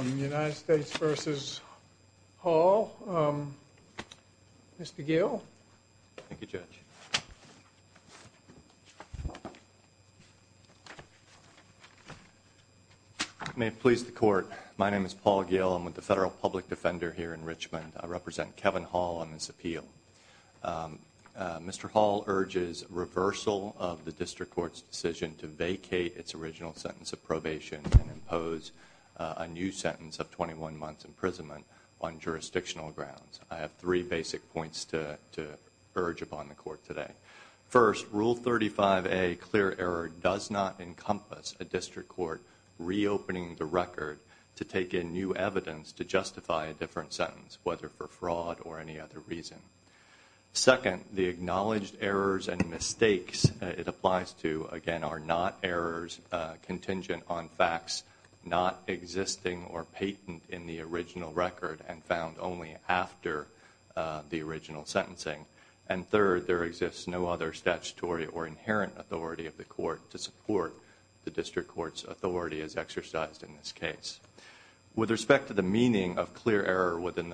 United States v. Hall. Mr. Gill. Thank you, Judge. May it please the Court. My name is Paul Gill. I'm with the Federal Public Defender here in Richmond. I represent Kevin Hall on this appeal. Mr. Hall urges reversal of the District Court's decision to vacate its original sentence of probation and impose a new sentence of 21 months' imprisonment on jurisdictional grounds. I have three basic points to urge upon the Court today. First, Rule 35A, Clear Error, does not encompass a District Court reopening the record to take in new evidence to justify a different sentence, whether for fraud or any other reason. Second, the acknowledged errors and mistakes it applies to, again, are not errors contingent on facts not existing or patent in the original record and found only after the original sentencing. And third, there exists no other statutory or inherent authority of the Court to support the District Court's authority as exercised in this case. With respect to the meaning of Clear Error within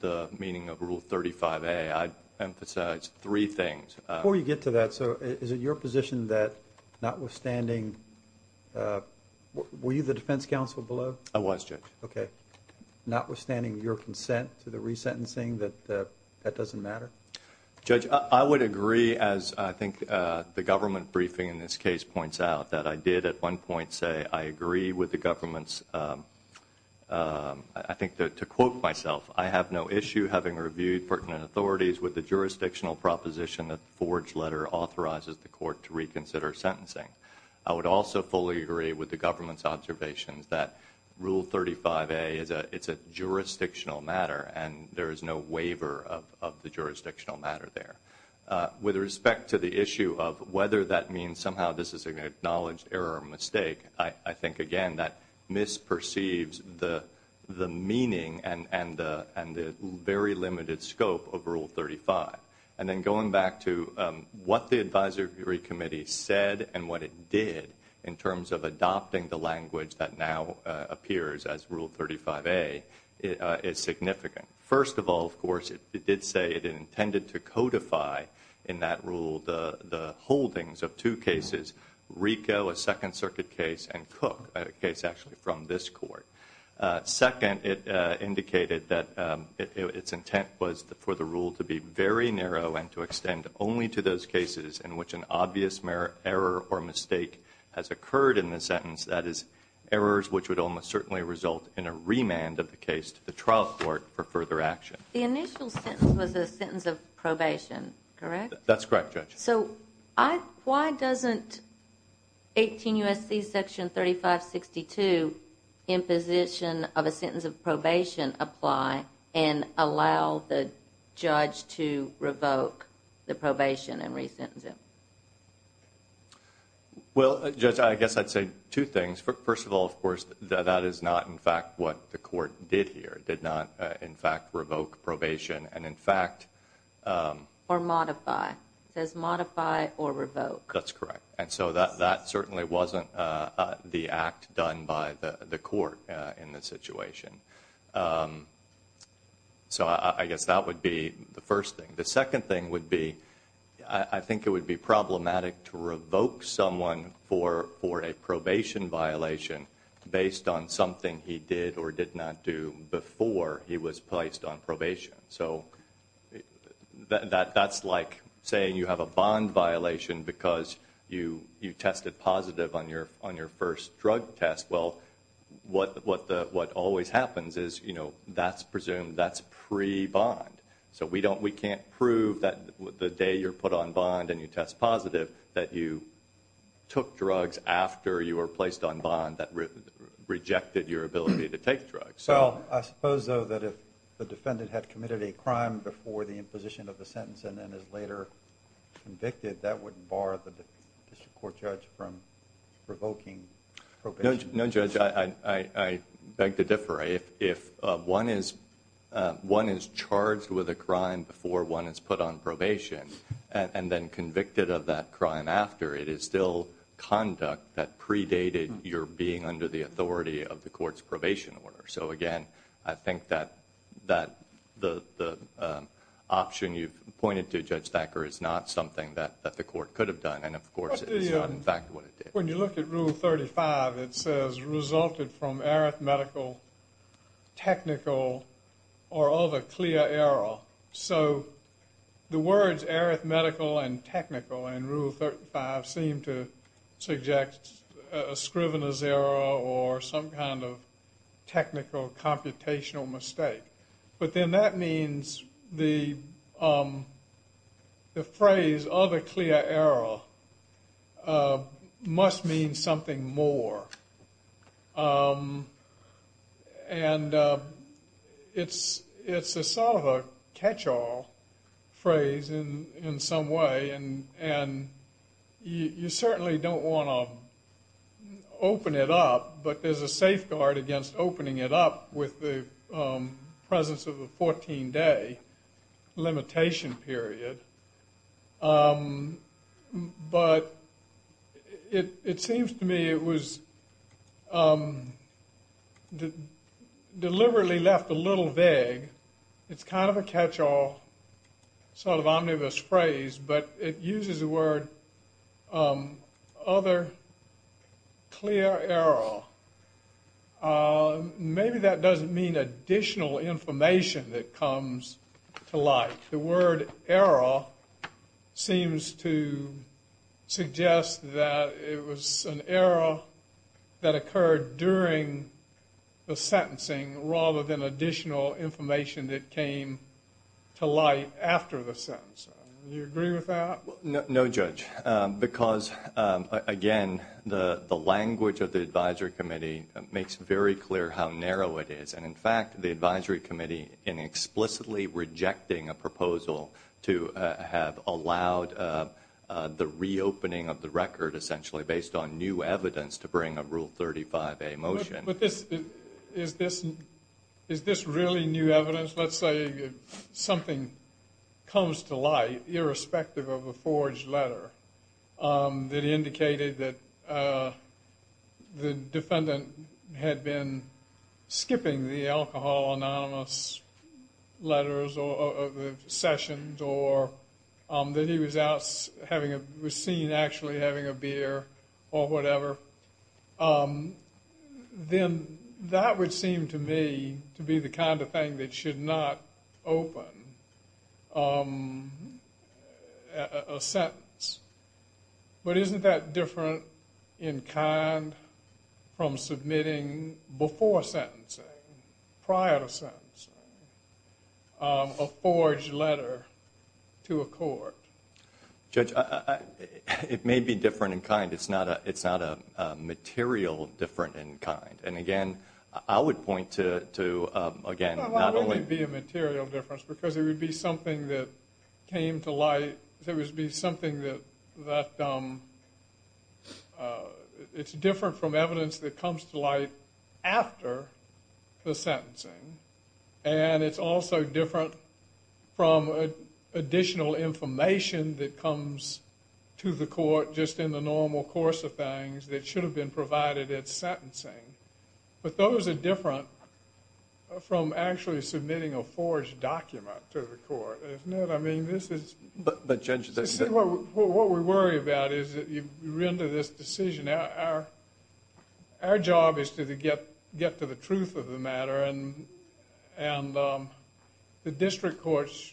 the meaning of Rule 35A, I'd emphasize three things. Before you get to that, so is it your position that notwithstanding – were you the defense counsel below? I was, Judge. Okay. Notwithstanding your consent to the resentencing, that that doesn't matter? Judge, I would agree, as I think the government briefing in this case points out, that I did at one point say I agree with the government's – I think to quote myself, I have no issue having reviewed pertinent authorities with the jurisdictional proposition that the forged letter authorizes the Court to reconsider sentencing. I would also fully agree with the government's observations that Rule 35A is a – it's a jurisdictional matter and there is no waiver of the jurisdictional matter there. With respect to the issue of whether that means somehow this is an acknowledged error or mistake, I think, again, that misperceives the meaning and the very limited scope of Rule 35. And then going back to what the Advisory Committee said and what it did in terms of adopting the language that now appears as Rule 35A is significant. First of all, of course, it did say it intended to codify in that rule the holdings of two cases, RICO, a Second Circuit case, and Cook, a case actually from this Court. Second, it indicated that its intent was for the rule to be very narrow and to extend only to those cases in which an obvious error or mistake has occurred in the sentence, that is, errors which would almost certainly result in a remand of the case to the trial court for further action. The initial sentence was a sentence of probation, correct? That's correct, Judge. So why doesn't 18 U.S.C. Section 3562, imposition of a sentence of probation, apply and allow the judge to revoke the probation and re-sentence him? Well, Judge, I guess I'd say two things. First of all, of course, that is not, in fact, what the Court did here. It did not, in fact, revoke probation and, in fact – Or modify. It says modify or revoke. That's correct. And so that certainly wasn't the act done by the Court in this situation. So I guess that would be the first thing. The second thing would be I think it would be problematic to revoke someone for a probation violation based on something he did or did not do before he was placed on probation. So that's like saying you have a bond violation because you tested positive on your first drug test. Well, what always happens is, you know, that's presumed that's pre-bond. So we can't prove that the day you're put on bond and you test positive that you took drugs after you were placed on bond that rejected your ability to take drugs. Well, I suppose, though, that if the defendant had committed a crime before the imposition of the sentence and then is later convicted, that wouldn't bar the district court judge from revoking probation. No, Judge, I beg to differ. If one is charged with a crime before one is put on probation and then convicted of that crime after, it is still conduct that predated your being under the authority of the Court's probation order. So, again, I think that the option you've pointed to, Judge Thacker, is not something that the Court could have done. And, of course, it is not, in fact, what it did. When you look at Rule 35, it says resulted from arithmetical, technical, or of a clear error. So the words arithmetical and technical in Rule 35 seem to suggest a scrivener's error or some kind of technical computational mistake. But then that means the phrase of a clear error must mean something more. And it's a sort of a catch-all phrase in some way. And you certainly don't want to open it up, but there's a safeguard against opening it up with the presence of a 14-day limitation period. But it seems to me it was deliberately left a little vague. It's kind of a catch-all, sort of omnibus phrase, but it uses the word other clear error. Maybe that doesn't mean additional information that comes to light. The word error seems to suggest that it was an error that occurred during the sentencing rather than additional information that came to light after the sentencing. Do you agree with that? No, Judge, because, again, the language of the Advisory Committee makes very clear how narrow it is. And, in fact, the Advisory Committee in explicitly rejecting a proposal to have allowed the reopening of the record essentially based on new evidence to bring a Rule 35a motion. But is this really new evidence? Let's say something comes to light, irrespective of a forged letter that indicated that the defendant had been skipping the alcohol anonymous letters or the sessions or that he was seen actually having a beer or whatever. Then that would seem to me to be the kind of thing that should not open a sentence. But isn't that different in kind from submitting before sentencing, prior to sentencing, a forged letter to a court? Judge, it may be different in kind. It's not a material different in kind. And, again, I would point to, again, not only… Well, why would it be a material difference? And it's also different from additional information that comes to the court just in the normal course of things that should have been provided at sentencing. But those are different from actually submitting a forged document to the court, isn't it? I mean, this is… But, Judge… What we worry about is that you render this decision. Our job is to get to the truth of the matter, and the district court's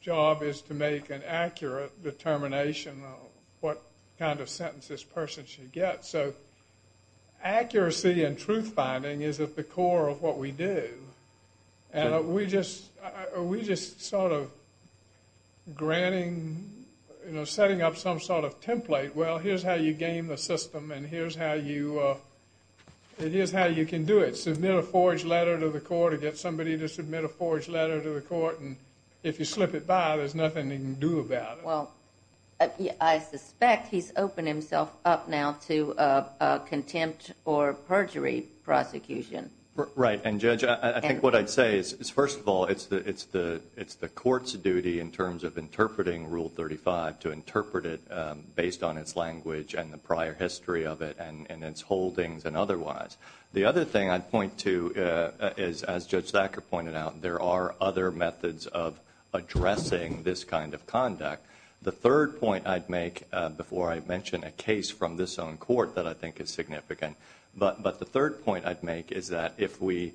job is to make an accurate determination of what kind of sentence this person should get. So accuracy and truth-finding is at the core of what we do. And are we just sort of granting, you know, setting up some sort of template? Well, here's how you game the system, and here's how you can do it. Submit a forged letter to the court or get somebody to submit a forged letter to the court, and if you slip it by, there's nothing they can do about it. Well, I suspect he's opened himself up now to contempt or perjury prosecution. Right. And, Judge, I think what I'd say is, first of all, it's the court's duty in terms of interpreting Rule 35 to interpret it based on its language and the prior history of it and its holdings and otherwise. The other thing I'd point to is, as Judge Thacker pointed out, there are other methods of addressing this kind of conduct. The third point I'd make before I mention a case from this own court that I think is significant. But the third point I'd make is that if we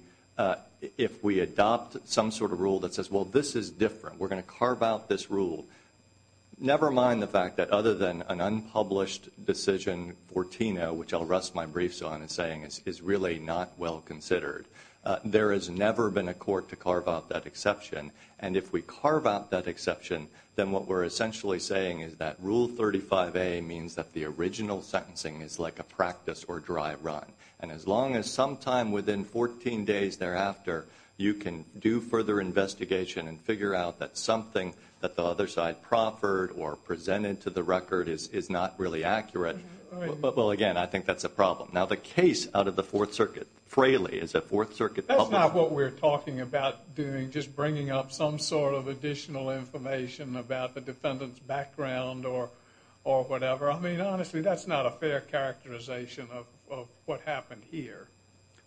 adopt some sort of rule that says, well, this is different, we're going to carve out this rule, never mind the fact that other than an unpublished decision for Tino, which I'll rest my briefs on in saying is really not well considered, there has never been a court to carve out that exception. And if we carve out that exception, then what we're essentially saying is that Rule 35A means that the original sentencing is like a practice or dry run. And as long as sometime within 14 days thereafter, you can do further investigation and figure out that something that the other side proffered or presented to the record is not really accurate, well, again, I think that's a problem. Now, the case out of the Fourth Circuit, Fraley, is a Fourth Circuit publisher. It's not what we're talking about doing, just bringing up some sort of additional information about the defendant's background or whatever. I mean, honestly, that's not a fair characterization of what happened here.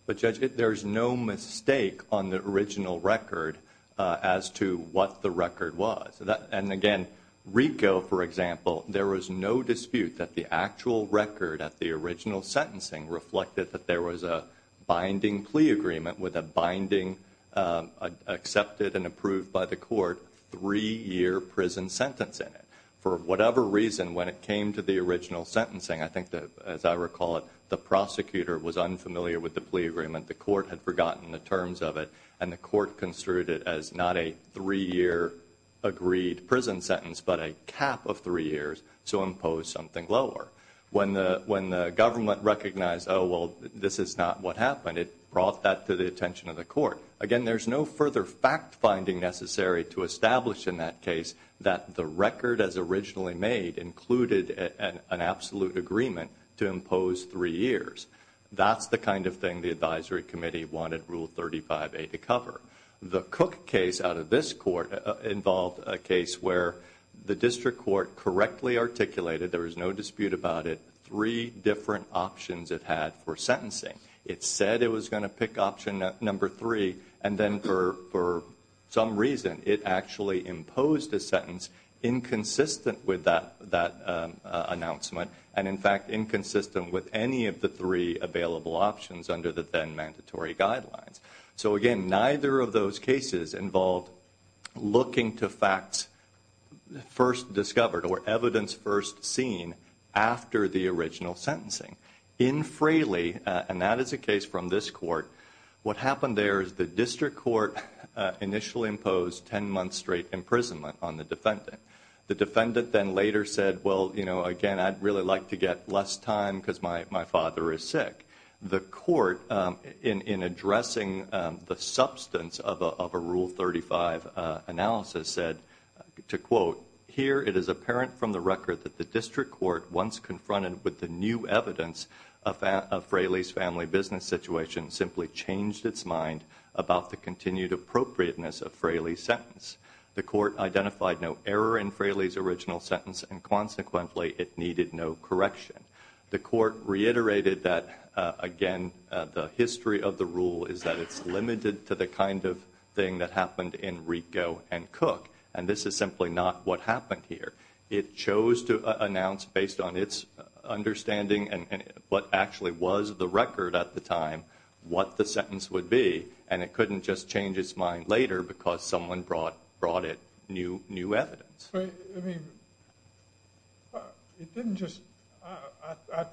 But, Judge, there's no mistake on the original record as to what the record was. And, again, RICO, for example, there was no dispute that the actual record at the original sentencing reflected that there was a binding plea agreement with a binding, accepted and approved by the court, three-year prison sentence in it. For whatever reason, when it came to the original sentencing, I think that, as I recall it, the prosecutor was unfamiliar with the plea agreement. The court had forgotten the terms of it, and the court construed it as not a three-year agreed prison sentence, but a cap of three years to impose something lower. When the government recognized, oh, well, this is not what happened, it brought that to the attention of the court. Again, there's no further fact-finding necessary to establish in that case that the record as originally made included an absolute agreement to impose three years. That's the kind of thing the advisory committee wanted Rule 35A to cover. The Cook case out of this court involved a case where the district court correctly articulated, there was no dispute about it, three different options it had for sentencing. It said it was going to pick option number three, and then for some reason it actually imposed a sentence inconsistent with that announcement, and, in fact, inconsistent with any of the three available options under the then-mandatory guidelines. Again, neither of those cases involved looking to facts first discovered or evidence first seen after the original sentencing. In Fraley, and that is a case from this court, what happened there is the district court initially imposed 10 months straight imprisonment on the defendant. The defendant then later said, well, you know, again, I'd really like to get less time because my father is sick. The court, in addressing the substance of a Rule 35 analysis, said, to quote, here it is apparent from the record that the district court, once confronted with the new evidence of Fraley's family business situation, simply changed its mind about the continued appropriateness of Fraley's sentence. The court identified no error in Fraley's original sentence, and consequently it needed no correction. The court reiterated that, again, the history of the rule is that it's limited to the kind of thing that happened in Rico and Cook, and this is simply not what happened here. It chose to announce, based on its understanding and what actually was the record at the time, what the sentence would be, and it couldn't just change its mind later because someone brought it new evidence. I mean, it didn't just – I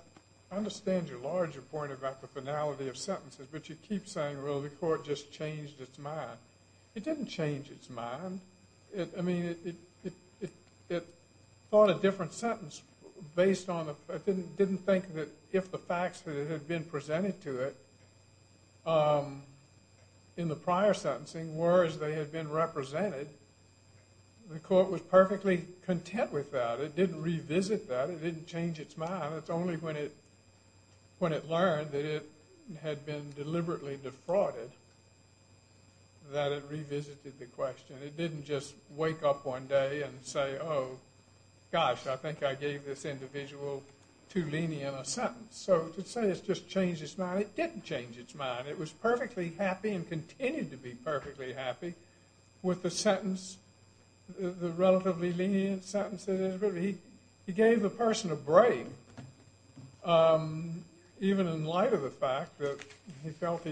understand your larger point about the finality of sentences, but you keep saying, well, the court just changed its mind. It didn't change its mind. I mean, it thought a different sentence based on the – it didn't think that if the facts that had been presented to it in the prior sentencing were as they had been represented, the court was perfectly content with that. It didn't revisit that. It didn't change its mind. It's only when it learned that it had been deliberately defrauded that it revisited the question. It didn't just wake up one day and say, oh, gosh, I think I gave this individual too lenient a sentence. So to say it's just changed its mind, it didn't change its mind. It was perfectly happy and continued to be perfectly happy with the sentence, the relatively lenient sentence it is. He gave the person a break even in light of the fact that he felt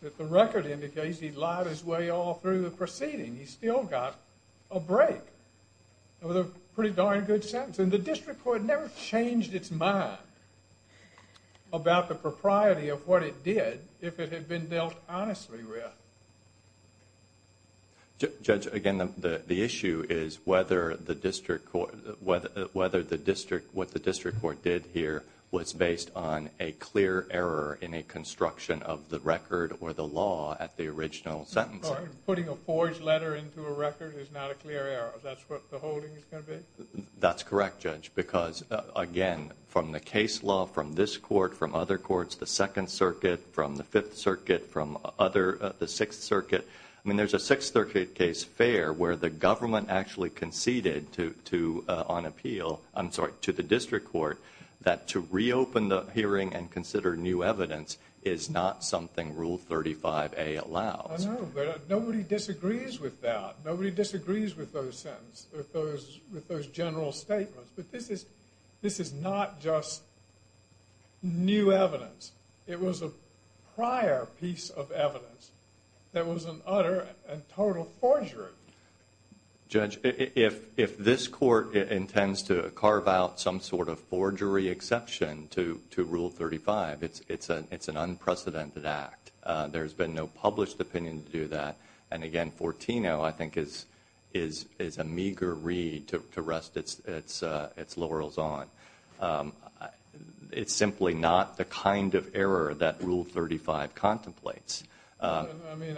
that the record indicates he lied his way all through the proceeding. He still got a break with a pretty darn good sentence. And the district court never changed its mind about the propriety of what it did if it had been dealt honestly with. Judge, again, the issue is whether the district court – whether the district – what the district court did here was based on a clear error in a construction of the record or the law at the original sentencing. Putting a forged letter into a record is not a clear error. Is that what the holding is going to be? That's correct, Judge, because, again, from the case law, from this court, from other courts, the Second Circuit, from the Fifth Circuit, from other – the Sixth Circuit. I mean, there's a Sixth Circuit case fair where the government actually conceded to – on appeal – I'm sorry – to the district court that to reopen the hearing and consider new evidence is not something Rule 35A allows. I know, but nobody disagrees with that. Nobody disagrees with those sentences, with those general statements. But this is – this is not just new evidence. It was a prior piece of evidence that was an utter and total forgery. Judge, if this court intends to carve out some sort of forgery exception to Rule 35, it's an unprecedented act. There's been no published opinion to do that. And, again, 14-0, I think, is a meager read to rest its laurels on. It's simply not the kind of error that Rule 35 contemplates. I mean,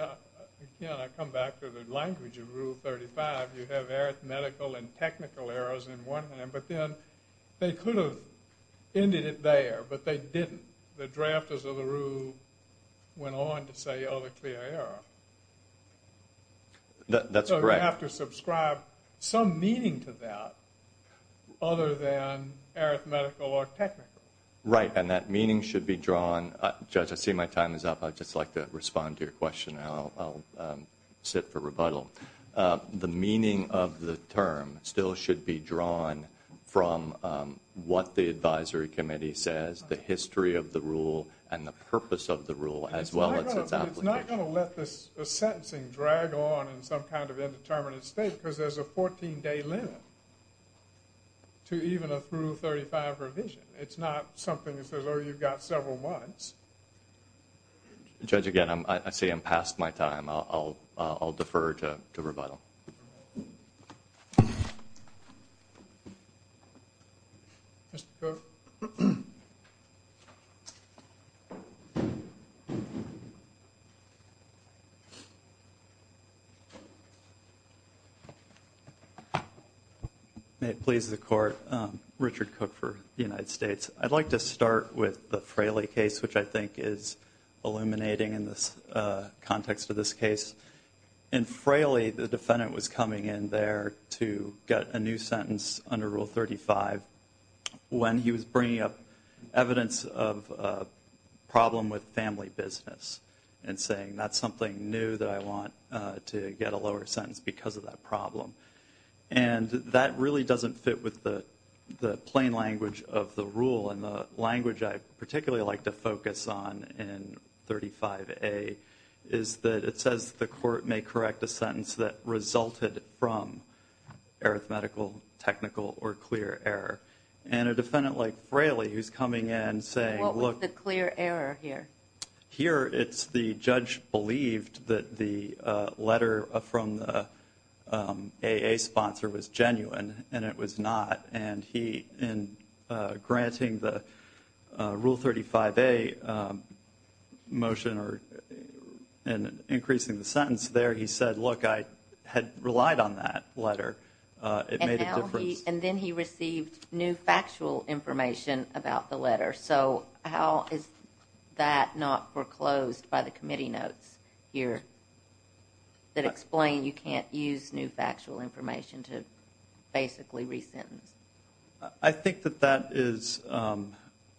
again, I come back to the language of Rule 35. You have arithmetical and technical errors in one hand, but then they could have ended it there, but they didn't. The drafters of the rule went on to say other clear error. That's correct. You have to subscribe some meaning to that other than arithmetical or technical. Right, and that meaning should be drawn – Judge, I see my time is up. I'd just like to respond to your question, and I'll sit for rebuttal. The meaning of the term still should be drawn from what the advisory committee says, the history of the rule, and the purpose of the rule, as well as its application. I'm not going to let this sentencing drag on in some kind of indeterminate state because there's a 14-day limit to even a Rule 35 revision. It's not something that says, oh, you've got several months. Judge, again, I say I'm past my time. I'll defer to rebuttal. Mr. Cook? May it please the Court, Richard Cook for the United States. I'd like to start with the Fraley case, which I think is illuminating in the context of this case. In Fraley, the defendant was coming in there to get a new sentence under Rule 35 when he was bringing up evidence of a problem with family business and saying that's something new that I want to get a lower sentence because of that problem. And that really doesn't fit with the plain language of the rule, and the language I particularly like to focus on in 35A is that it says the court may correct a sentence that resulted from arithmetical, technical, or clear error. And a defendant like Fraley, who's coming in saying, look— What was the clear error here? Here, it's the judge believed that the letter from the AA sponsor was genuine, and it was not. And he, in granting the Rule 35A motion and increasing the sentence there, he said, look, I had relied on that letter. It made a difference. And then he received new factual information about the letter. So how is that not foreclosed by the committee notes here that explain you can't use new factual information to basically resentence? I think that that is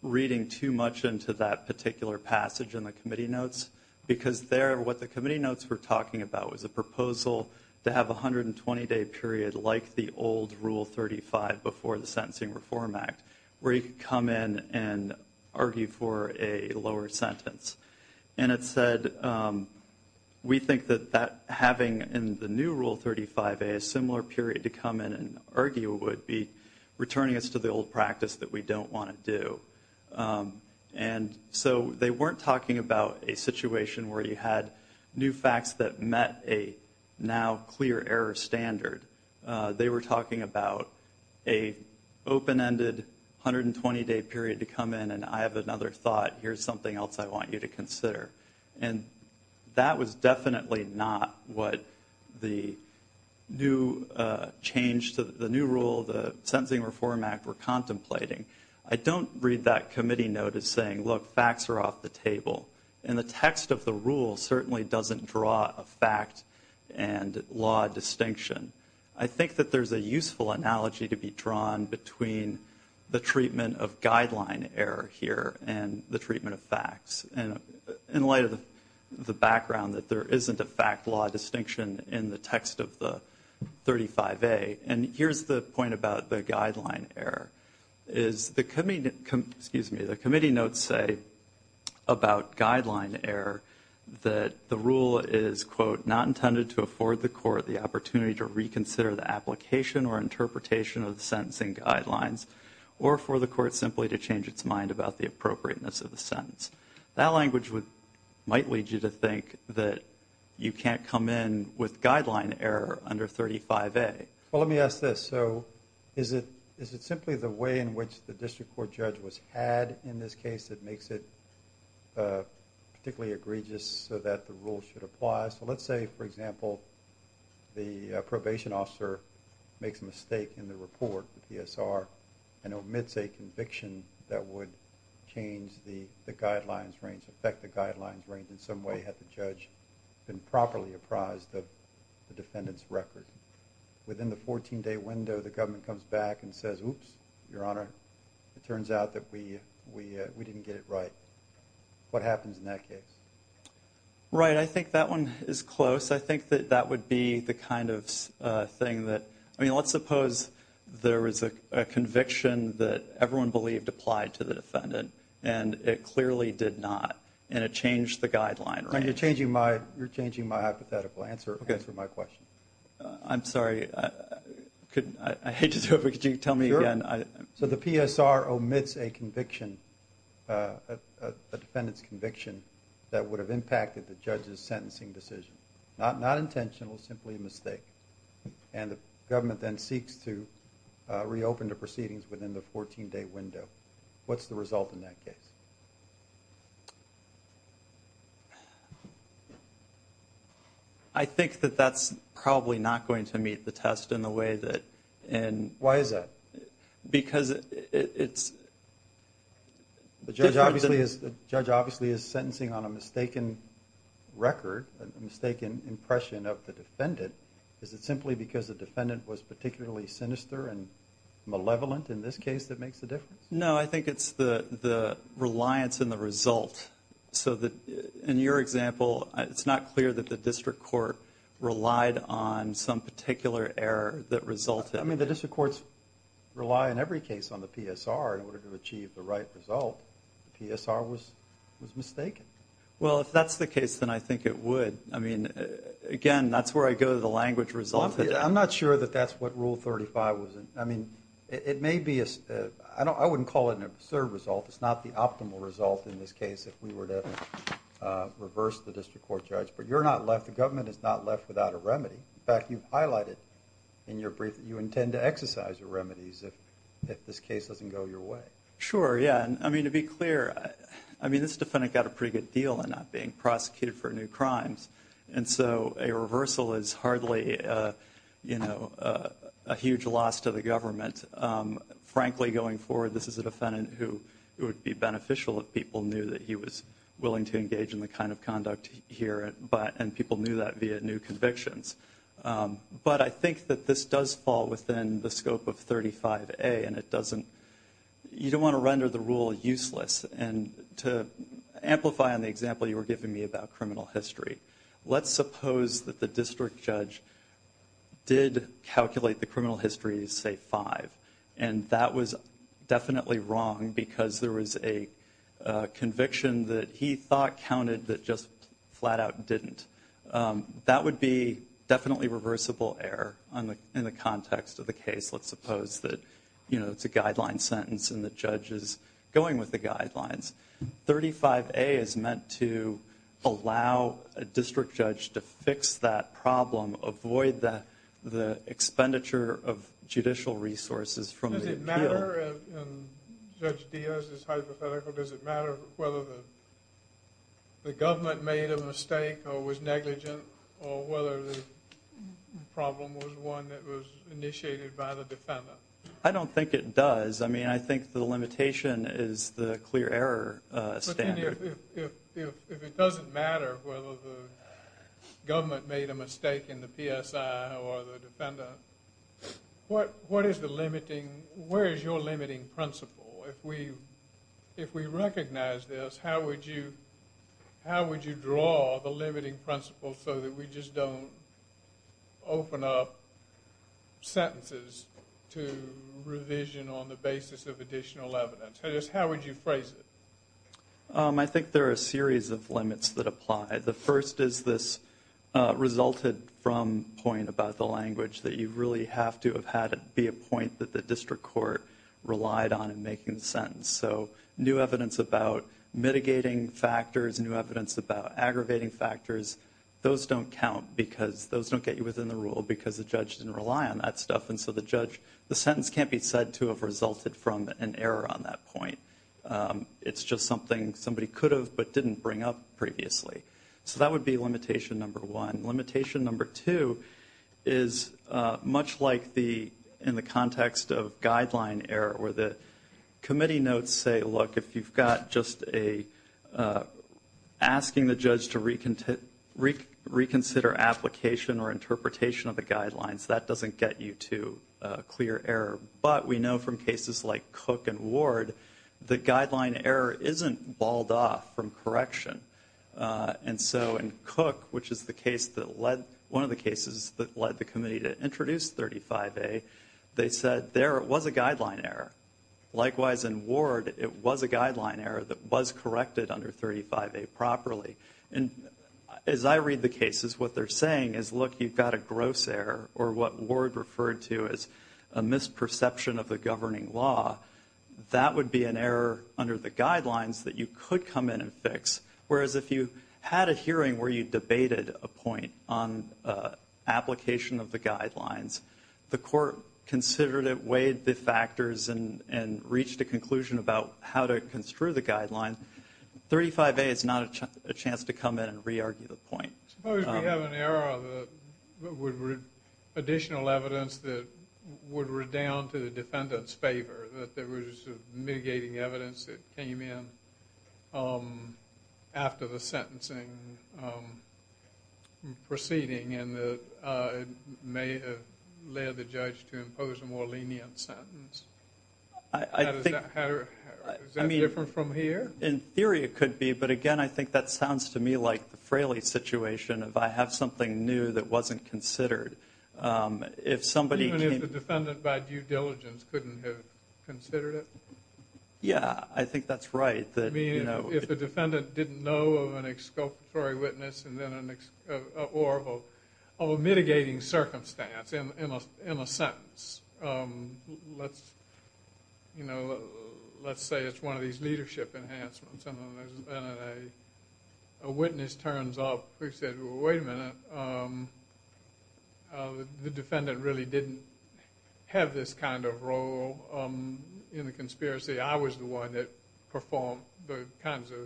reading too much into that particular passage in the committee notes because there, what the committee notes were talking about was a proposal to have a 120-day period like the old Rule 35 before the Sentencing Reform Act where you could come in and argue for a lower sentence. And it said, we think that having in the new Rule 35A a similar period to come in and argue would be returning us to the old practice that we don't want to do. And so they weren't talking about a situation where you had new facts that met a now clear error standard. They were talking about a open-ended 120-day period to come in, and I have another thought, here's something else I want you to consider. And that was definitely not what the new change to the new rule, the Sentencing Reform Act, were contemplating. I don't read that committee note as saying, look, facts are off the table. And the text of the rule certainly doesn't draw a fact and law distinction. I think that there's a useful analogy to be drawn between the treatment of guideline error here and the treatment of facts in light of the background that there isn't a fact-law distinction in the text of the 35A. And here's the point about the guideline error. The committee notes say about guideline error that the rule is, quote, not intended to afford the court the opportunity to reconsider the application or interpretation of the sentencing guidelines or for the court simply to change its mind about the appropriateness of the sentence. That language might lead you to think that you can't come in with guideline error under 35A. Well, let me ask this. So is it simply the way in which the district court judge was had in this case that makes it particularly egregious so that the rule should apply? So let's say, for example, the probation officer makes a mistake in the report, the PSR, and omits a conviction that would change the guidelines range, affect the guidelines range in some way had the judge been properly apprised of the defendant's record. Within the 14-day window, the government comes back and says, Oops, Your Honor, it turns out that we didn't get it right. What happens in that case? Right. I think that one is close. I think that that would be the kind of thing that, I mean, let's suppose there was a conviction that everyone believed applied to the defendant, and it clearly did not, and it changed the guideline range. You're changing my hypothetical. Answer my question. I'm sorry. I hate to do it, but could you tell me again? Sure. So the PSR omits a conviction, a defendant's conviction, that would have impacted the judge's sentencing decision. Not intentional, simply a mistake. And the government then seeks to reopen the proceedings within the 14-day window. What's the result in that case? I think that that's probably not going to meet the test in the way that ‑‑ Why is that? Because it's ‑‑ The judge obviously is sentencing on a mistaken record, a mistaken impression of the defendant. Is it simply because the defendant was particularly sinister and malevolent in this case that makes a difference? No, I think it's the reliance in the result. So in your example, it's not clear that the district court relied on some particular error that resulted. I mean, the district courts rely in every case on the PSR in order to achieve the right result. The PSR was mistaken. Well, if that's the case, then I think it would. I mean, again, that's where I go to the language resulted. I'm not sure that that's what Rule 35 was. I mean, it may be ‑‑ I wouldn't call it an absurd result. It's not the optimal result in this case if we were to reverse the district court judge. But you're not left ‑‑ the government is not left without a remedy. In fact, you've highlighted in your brief that you intend to exercise the remedies if this case doesn't go your way. Sure, yeah. I mean, to be clear, I mean, this defendant got a pretty good deal on not being prosecuted for new crimes. And so a reversal is hardly, you know, a huge loss to the government. Frankly, going forward, this is a defendant who would be beneficial if people knew that he was willing to engage in the kind of conduct here, and people knew that via new convictions. But I think that this does fall within the scope of 35A, and it doesn't ‑‑ you don't want to render the rule useless. And to amplify on the example you were giving me about criminal history, let's suppose that the district judge did calculate the criminal history as, say, five. And that was definitely wrong because there was a conviction that he thought counted that just flat out didn't. That would be definitely reversible error in the context of the case. Let's suppose that, you know, it's a guideline sentence and the judge is going with the guidelines. 35A is meant to allow a district judge to fix that problem, avoid the expenditure of judicial resources from the appeal. Does it matter if Judge Diaz is hypothetical, does it matter whether the government made a mistake or was negligent or whether the problem was one that was initiated by the defendant? I don't think it does. I mean, I think the limitation is the clear error standard. If it doesn't matter whether the government made a mistake in the PSI or the defendant, what is the limiting ‑‑ where is your limiting principle? If we recognize this, how would you draw the limiting principle so that we just don't open up sentences to revision on the basis of additional evidence? How would you phrase it? I think there are a series of limits that apply. The first is this resulted from point about the language that you really have to have had it be a point that the district court relied on in making the sentence. So new evidence about mitigating factors, new evidence about aggravating factors, those don't count because those don't get you within the rule because the judge didn't rely on that stuff. And so the sentence can't be said to have resulted from an error on that point. It's just something somebody could have but didn't bring up previously. So that would be limitation number one. Limitation number two is much like in the context of guideline error where the committee notes say, look, if you've got just asking the judge to reconsider application or interpretation of the guidelines, that doesn't get you to clear error. But we know from cases like Cook and Ward, the guideline error isn't balled off from correction. And so in Cook, which is the case that led one of the cases that led the committee to introduce 35A, they said there was a guideline error. Likewise, in Ward, it was a guideline error that was corrected under 35A properly. And as I read the cases, what they're saying is, look, you've got a gross error, or what Ward referred to as a misperception of the governing law. That would be an error under the guidelines that you could come in and fix. Whereas if you had a hearing where you debated a point on application of the guidelines, the court considered it, weighed the factors, and reached a conclusion about how to construe the guidelines, 35A is not a chance to come in and re-argue the point. Suppose we have an error that would add additional evidence that would redound to the defendant's favor, that there was mitigating evidence that came in after the sentencing proceeding, and it may have led the judge to impose a more lenient sentence. Is that different from here? In theory it could be, but again, I think that sounds to me like the Fraley situation, if I have something new that wasn't considered. Even if the defendant, by due diligence, couldn't have considered it? Yeah, I think that's right. If the defendant didn't know of an exculpatory witness or a mitigating circumstance in a sentence. Let's say it's one of these leadership enhancements, and a witness turns up who says, wait a minute, the defendant really didn't have this kind of role in the conspiracy. I was the one that performed the kinds of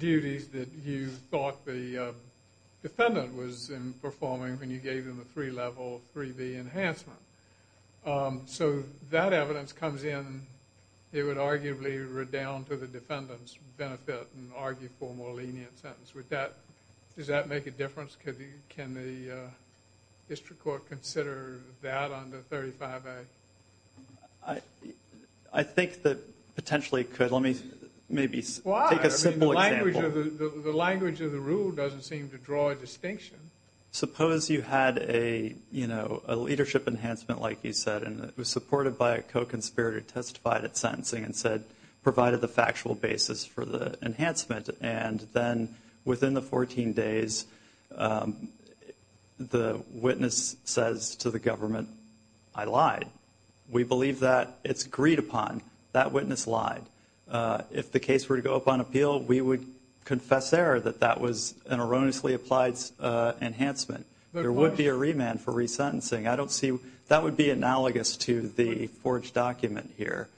duties that you thought the defendant was performing when you gave them a three-level, 3B enhancement. So that evidence comes in, it would arguably redound to the defendant's benefit and argue for a more lenient sentence. Does that make a difference? Can the district court consider that under 35A? I think that potentially it could. Let me maybe take a simple example. The language of the rule doesn't seem to draw a distinction. Suppose you had a leadership enhancement, like you said, and it was supported by a co-conspirator who testified at sentencing and provided the factual basis for the enhancement, and then within the 14 days the witness says to the government, I lied. We believe that it's agreed upon. That witness lied. If the case were to go up on appeal, we would confess there that that was an erroneously applied enhancement. There would be a remand for resentencing. That would be analogous to the forged document here.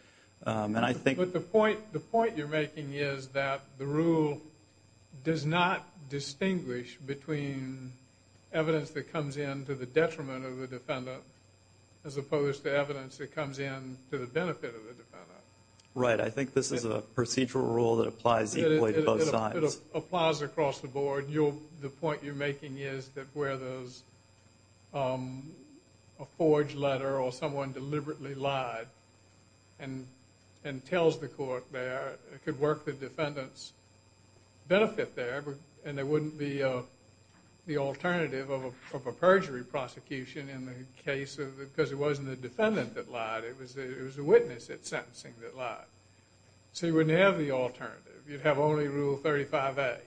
But the point you're making is that the rule does not distinguish between evidence that comes in to the detriment of the defendant Right, I think this is a procedural rule that applies equally to both sides. It applies across the board. The point you're making is that where there's a forged letter or someone deliberately lied and tells the court there, it could work the defendant's benefit there, and there wouldn't be the alternative of a perjury prosecution in the case because it wasn't the defendant that lied. It was the witness at sentencing that lied. So you wouldn't have the alternative. You'd have only Rule 35A.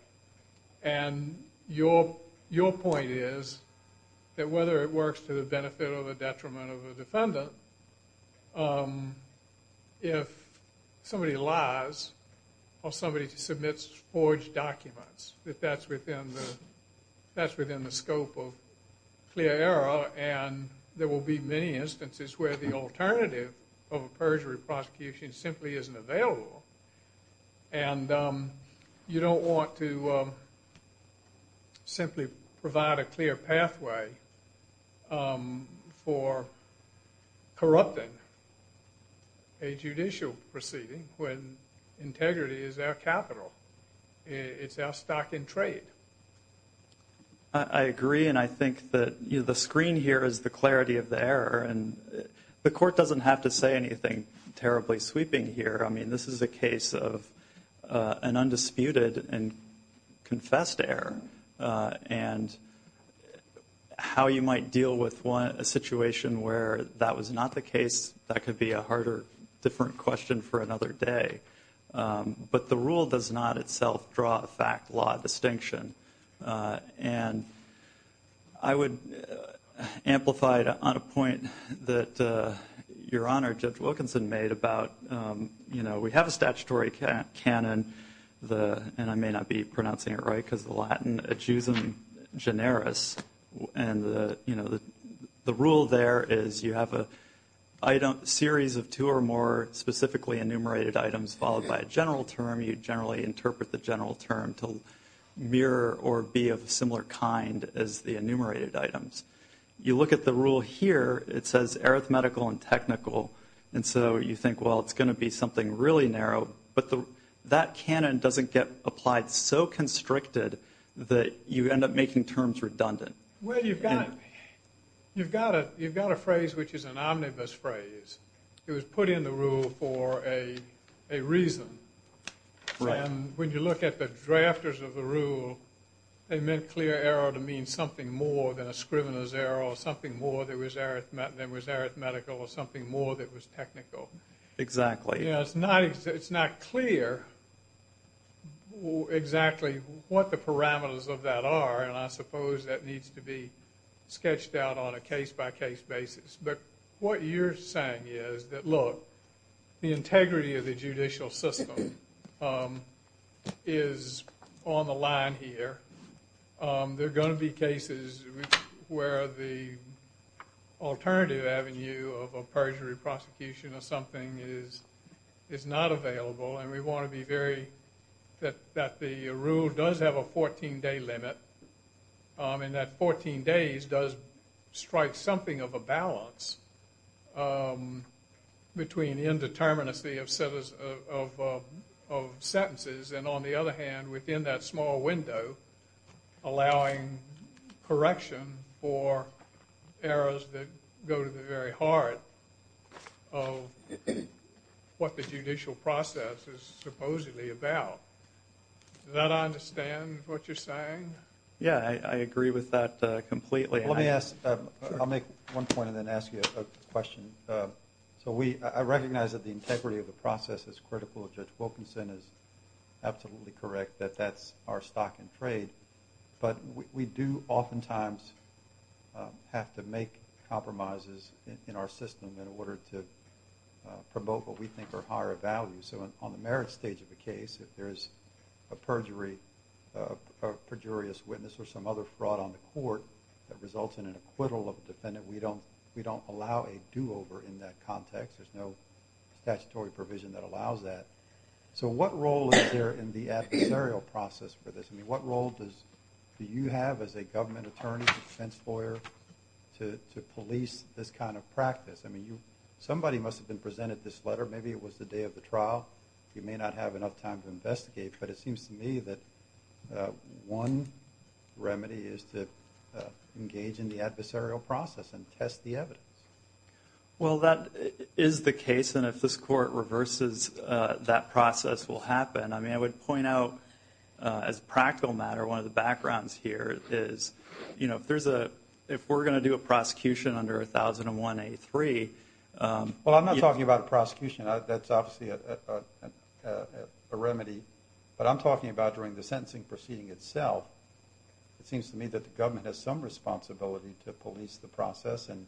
And your point is that whether it works to the benefit or the detriment of a defendant, if somebody lies or somebody submits forged documents, that that's within the scope of clear error, and there will be many instances where the alternative of a perjury prosecution simply isn't available, and you don't want to simply provide a clear pathway for corrupting a judicial proceeding when integrity is our capital. It's our stock in trade. I agree, and I think that the screen here is the clarity of the error, and the court doesn't have to say anything terribly sweeping here. I mean, this is a case of an undisputed and confessed error, and how you might deal with a situation where that was not the case, that could be a harder, different question for another day. But the rule does not itself draw a fact-law distinction. And I would amplify on a point that Your Honor Judge Wilkinson made about, you know, we have a statutory canon, and I may not be pronouncing it right, because the Latin adjusum generis. And, you know, the rule there is you have a series of two or more specifically enumerated items followed by a general term. You generally interpret the general term to mirror or be of a similar kind as the enumerated items. You look at the rule here, it says arithmetical and technical, and so you think, well, it's going to be something really narrow. But that canon doesn't get applied so constricted that you end up making terms redundant. Well, you've got a phrase which is an omnibus phrase. It was put in the rule for a reason. Right. And when you look at the drafters of the rule, they meant clear error to mean something more than a scrivener's error or something more than was arithmetical or something more than was technical. Exactly. You know, it's not clear exactly what the parameters of that are, and I suppose that needs to be sketched out on a case-by-case basis. But what you're saying is that, look, the integrity of the judicial system is on the line here. There are going to be cases where the alternative avenue of a perjury prosecution or something is not available, and we want to be very that the rule does have a 14-day limit and that 14 days does strike something of a balance between indeterminacy of sentences and, on the other hand, within that small window, allowing correction for errors that go to the very heart of what the judicial process is supposedly about. Does that understand what you're saying? Yeah, I agree with that completely. Let me ask. I'll make one point and then ask you a question. So I recognize that the integrity of the process is critical. Judge Wilkinson is absolutely correct that that's our stock and trade. But we do oftentimes have to make compromises in our system in order to promote what we think are higher values. So on the merit stage of a case, if there's a perjurious witness or some other fraud on the court that results in an acquittal of a defendant, we don't allow a do-over in that context. There's no statutory provision that allows that. So what role is there in the adversarial process for this? I mean, what role do you have as a government attorney, defense lawyer, to police this kind of practice? I mean, somebody must have been presented this letter. Maybe it was the day of the trial. You may not have enough time to investigate. But it seems to me that one remedy is to engage in the adversarial process and test the evidence. Well, that is the case. And if this court reverses, that process will happen. I mean, I would point out as a practical matter, one of the backgrounds here is, you know, if we're going to do a prosecution under 1001A3. Well, I'm not talking about a prosecution. That's obviously a remedy. But I'm talking about during the sentencing proceeding itself. It seems to me that the government has some responsibility to police the process and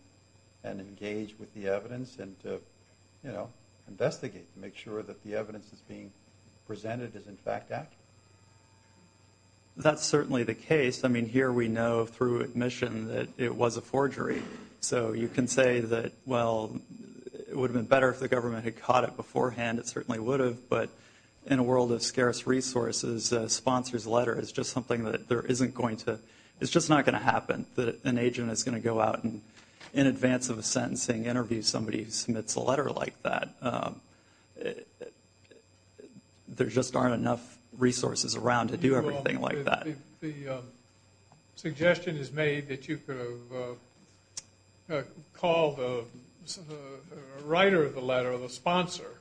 engage with the evidence and, you know, investigate, make sure that the evidence that's being presented is, in fact, accurate. That's certainly the case. I mean, here we know through admission that it was a forgery. So you can say that, well, it would have been better if the government had caught it beforehand. It certainly would have. But in a world of scarce resources, a sponsor's letter is just something that there isn't going to ‑‑ it's just not going to happen that an agent is going to go out and in advance of a sentencing interview somebody who submits a letter like that. There just aren't enough resources around to do everything like that. The suggestion is made that you could have called the writer of the letter, the sponsor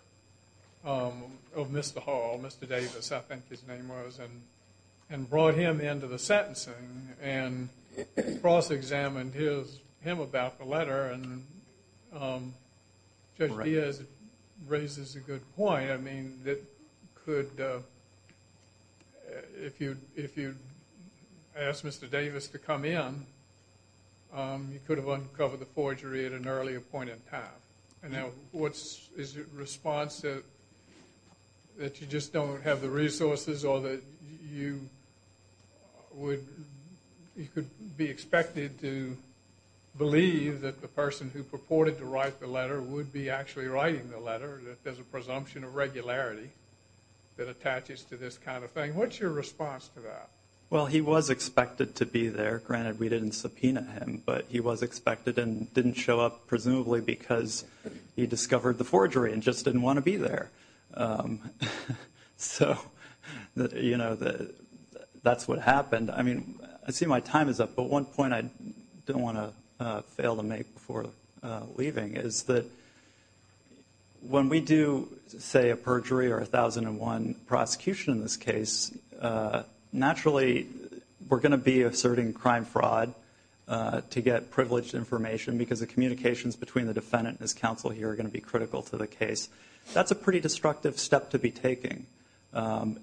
of Mr. Hall, Mr. Davis I think his name was, and brought him into the sentencing and cross‑examined him about the letter. And Judge Diaz raises a good point. I mean, if you asked Mr. Davis to come in, you could have uncovered the forgery at an earlier point in time. And now what is your response to that you just don't have the resources or that you could be expected to believe that the person who purported to write the letter would be actually writing the letter, that there's a presumption of regularity that attaches to this kind of thing. What's your response to that? Well, he was expected to be there. Granted, we didn't subpoena him. But he was expected and didn't show up presumably because he discovered the forgery and just didn't want to be there. So, you know, that's what happened. I mean, I see my time is up. But one point I don't want to fail to make before leaving is that when we do, say, a perjury or a 1001 prosecution in this case, naturally we're going to be asserting crime fraud to get privileged information because the communications between the defendant and his counsel here are going to be critical to the case. That's a pretty destructive step to be taking.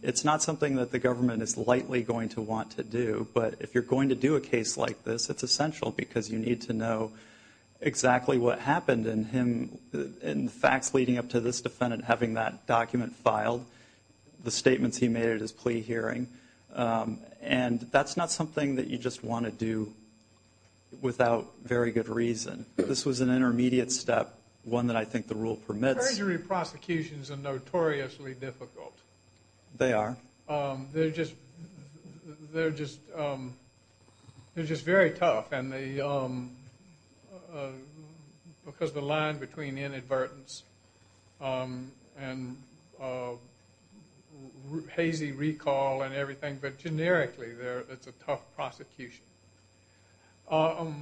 It's not something that the government is likely going to want to do. But if you're going to do a case like this, it's essential because you need to know exactly what happened in him and the facts leading up to this defendant having that document filed, the statements he made at his plea hearing. And that's not something that you just want to do without very good reason. This was an intermediate step, one that I think the rule permits. Perjury prosecutions are notoriously difficult. They are. They're just very tough because the line between inadvertence and hazy recall and everything, but generically it's a tough prosecution. How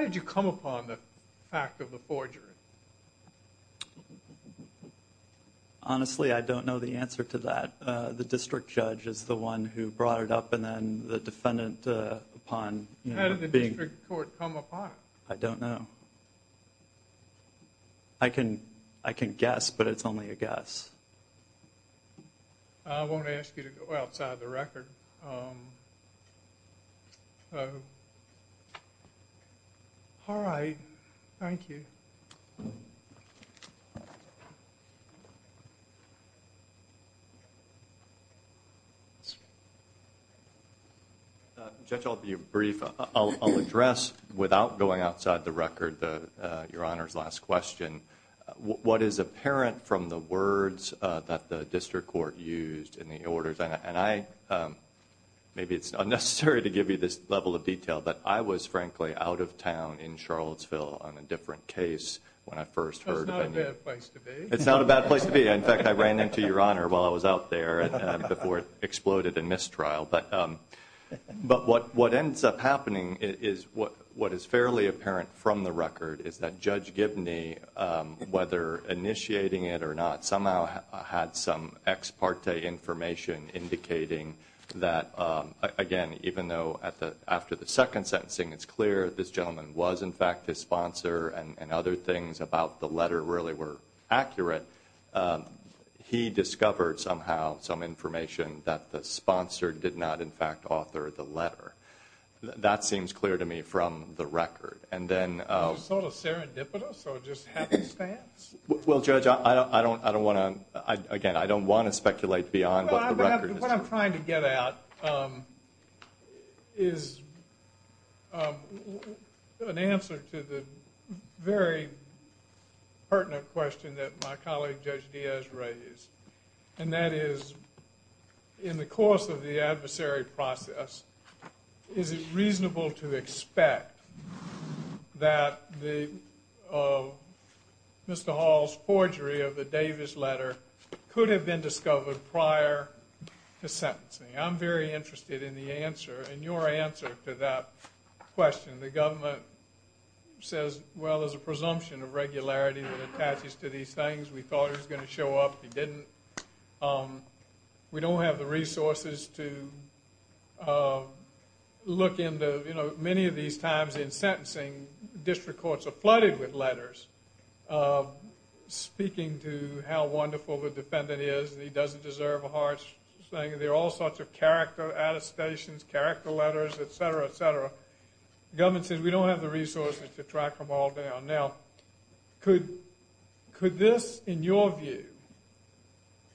did you come upon the fact of the forgery? Honestly, I don't know the answer to that. The district judge is the one who brought it up and then the defendant upon. How did the district court come upon it? I don't know. I can guess, but it's only a guess. I won't ask you to go outside the record. All right. Thank you. Judge, I'll be brief. I'll address without going outside the record your Honor's last question. What is apparent from the words that the district court used in the orders? And maybe it's unnecessary to give you this level of detail, but I was frankly out of town in Charlottesville on a different case when I first heard. That's not a bad place to be. It's not a bad place to be. In fact, I ran into your Honor while I was out there before it exploded in mistrial. But what ends up happening is what is fairly apparent from the record is that Judge Gibney, whether initiating it or not, somehow had some ex parte information indicating that, again, even though after the second sentencing it's clear this gentleman was in fact his sponsor and other things about the letter really were accurate, he discovered somehow some information that the sponsor did not in fact author the letter. That seems clear to me from the record. Is it sort of serendipitous or just happenstance? Well, Judge, again, I don't want to speculate beyond what the record is. What I'm trying to get at is an answer to the very pertinent question that my colleague Judge Diaz raised, and that is in the course of the adversary process, is it reasonable to expect that Mr. Hall's forgery of the Davis letter could have been discovered prior to sentencing? I'm very interested in the answer and your answer to that question. The government says, well, there's a presumption of regularity that attaches to these things. We thought it was going to show up. It didn't. We don't have the resources to look into, you know, many of these times in sentencing, district courts are flooded with letters speaking to how wonderful the defendant is and he doesn't deserve a harsh thing. There are all sorts of character attestations, character letters, et cetera, et cetera. The government says we don't have the resources to track them all down. Now, could this, in your view,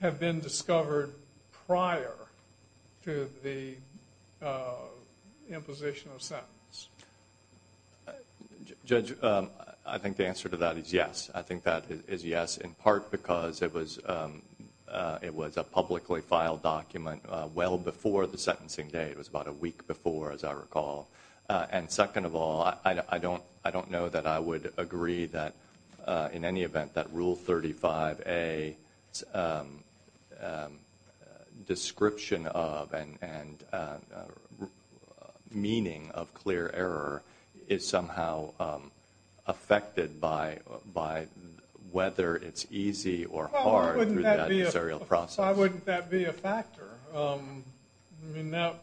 have been discovered prior to the imposition of sentence? Judge, I think the answer to that is yes. I think that is yes in part because it was a publicly filed document well before the sentencing day. It was about a week before, as I recall. And second of all, I don't know that I would agree that in any event that Rule 35A description of and meaning of clear error is somehow affected by whether it's easy or hard through that serial process. Why wouldn't that be a factor? I mean, now,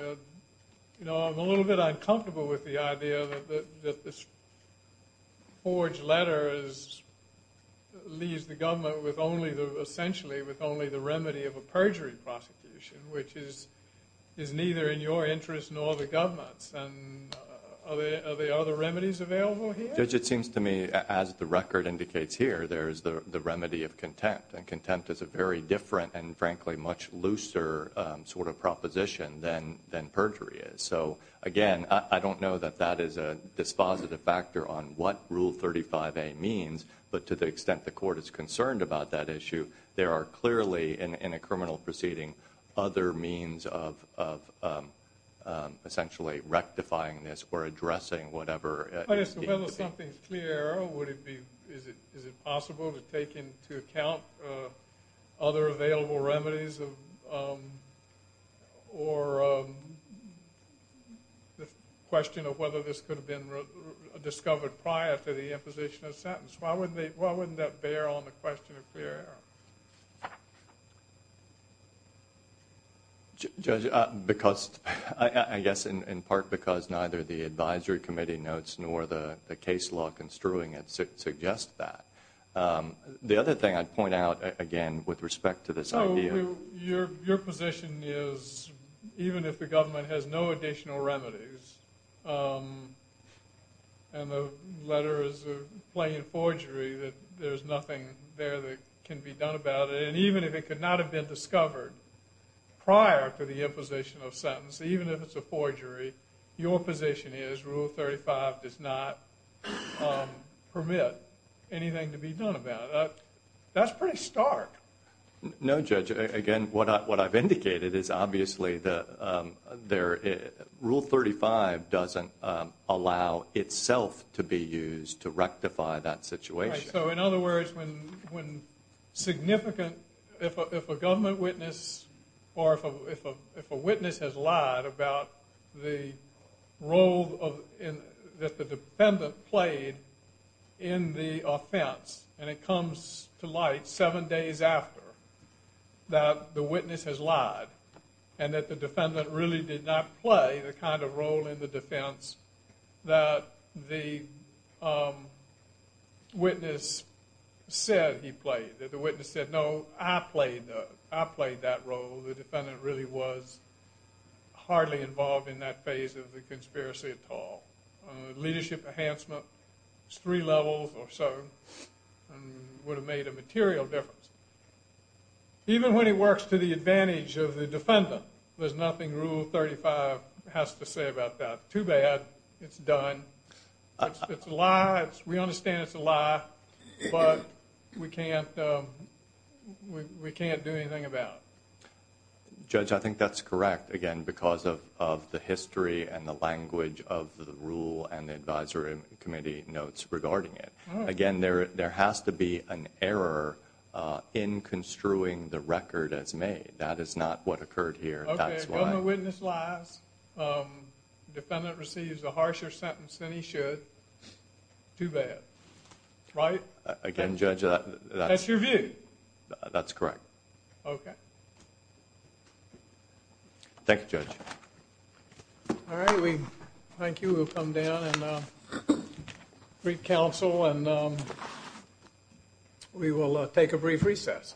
you know, I'm a little bit uncomfortable with the idea that this forged letter leaves the government with only the, essentially, with only the remedy of a perjury prosecution, which is neither in your interest nor the government's. Are there other remedies available here? Judge, it seems to me as the record indicates here, there is the remedy of contempt. And contempt is a very different and, frankly, much looser sort of proposition than perjury is. So, again, I don't know that that is a dispositive factor on what Rule 35A means, but to the extent the court is concerned about that issue, there are clearly, in a criminal proceeding, other means of essentially rectifying this or addressing whatever. But as to whether something is clear error, is it possible to take into account other available remedies or the question of whether this could have been discovered prior to the imposition of sentence? Why wouldn't that bear on the question of clear error? Judge, because I guess in part because neither the advisory committee notes nor the case law construing it suggests that. The other thing I'd point out, again, with respect to this idea. So your position is even if the government has no additional remedies and the letter is a plain forgery, that there's nothing there that can be done about it, and even if it could not have been discovered prior to the imposition of sentence, even if it's a forgery, your position is Rule 35 does not permit anything to be done about it. That's pretty stark. No, Judge. Again, what I've indicated is obviously Rule 35 doesn't allow itself to be used to rectify that situation. So in other words, when significant, if a government witness or if a witness has lied about the role that the defendant played in the offense, and it comes to light seven days after that the witness has lied and that the defendant really did not play the kind of role in the defense that the witness said he played, that the witness said, no, I played that role. The defendant really was hardly involved in that phase of the conspiracy at all. Leadership enhancement is three levels or so and would have made a material difference. Even when it works to the advantage of the defendant, there's nothing Rule 35 has to say about that. Too bad. It's done. It's a lie. We understand it's a lie, but we can't do anything about it. Judge, I think that's correct, again, because of the history and the language of the Rule and the Advisory Committee notes regarding it. Again, there has to be an error in construing the record as made. That is not what occurred here. Okay, a government witness lies. Defendant receives a harsher sentence than he should. Too bad. Right? Again, Judge, that's... That's your view. That's correct. Okay. Thank you, Judge. All right, we thank you. We'll come down and greet counsel and we will take a brief recess.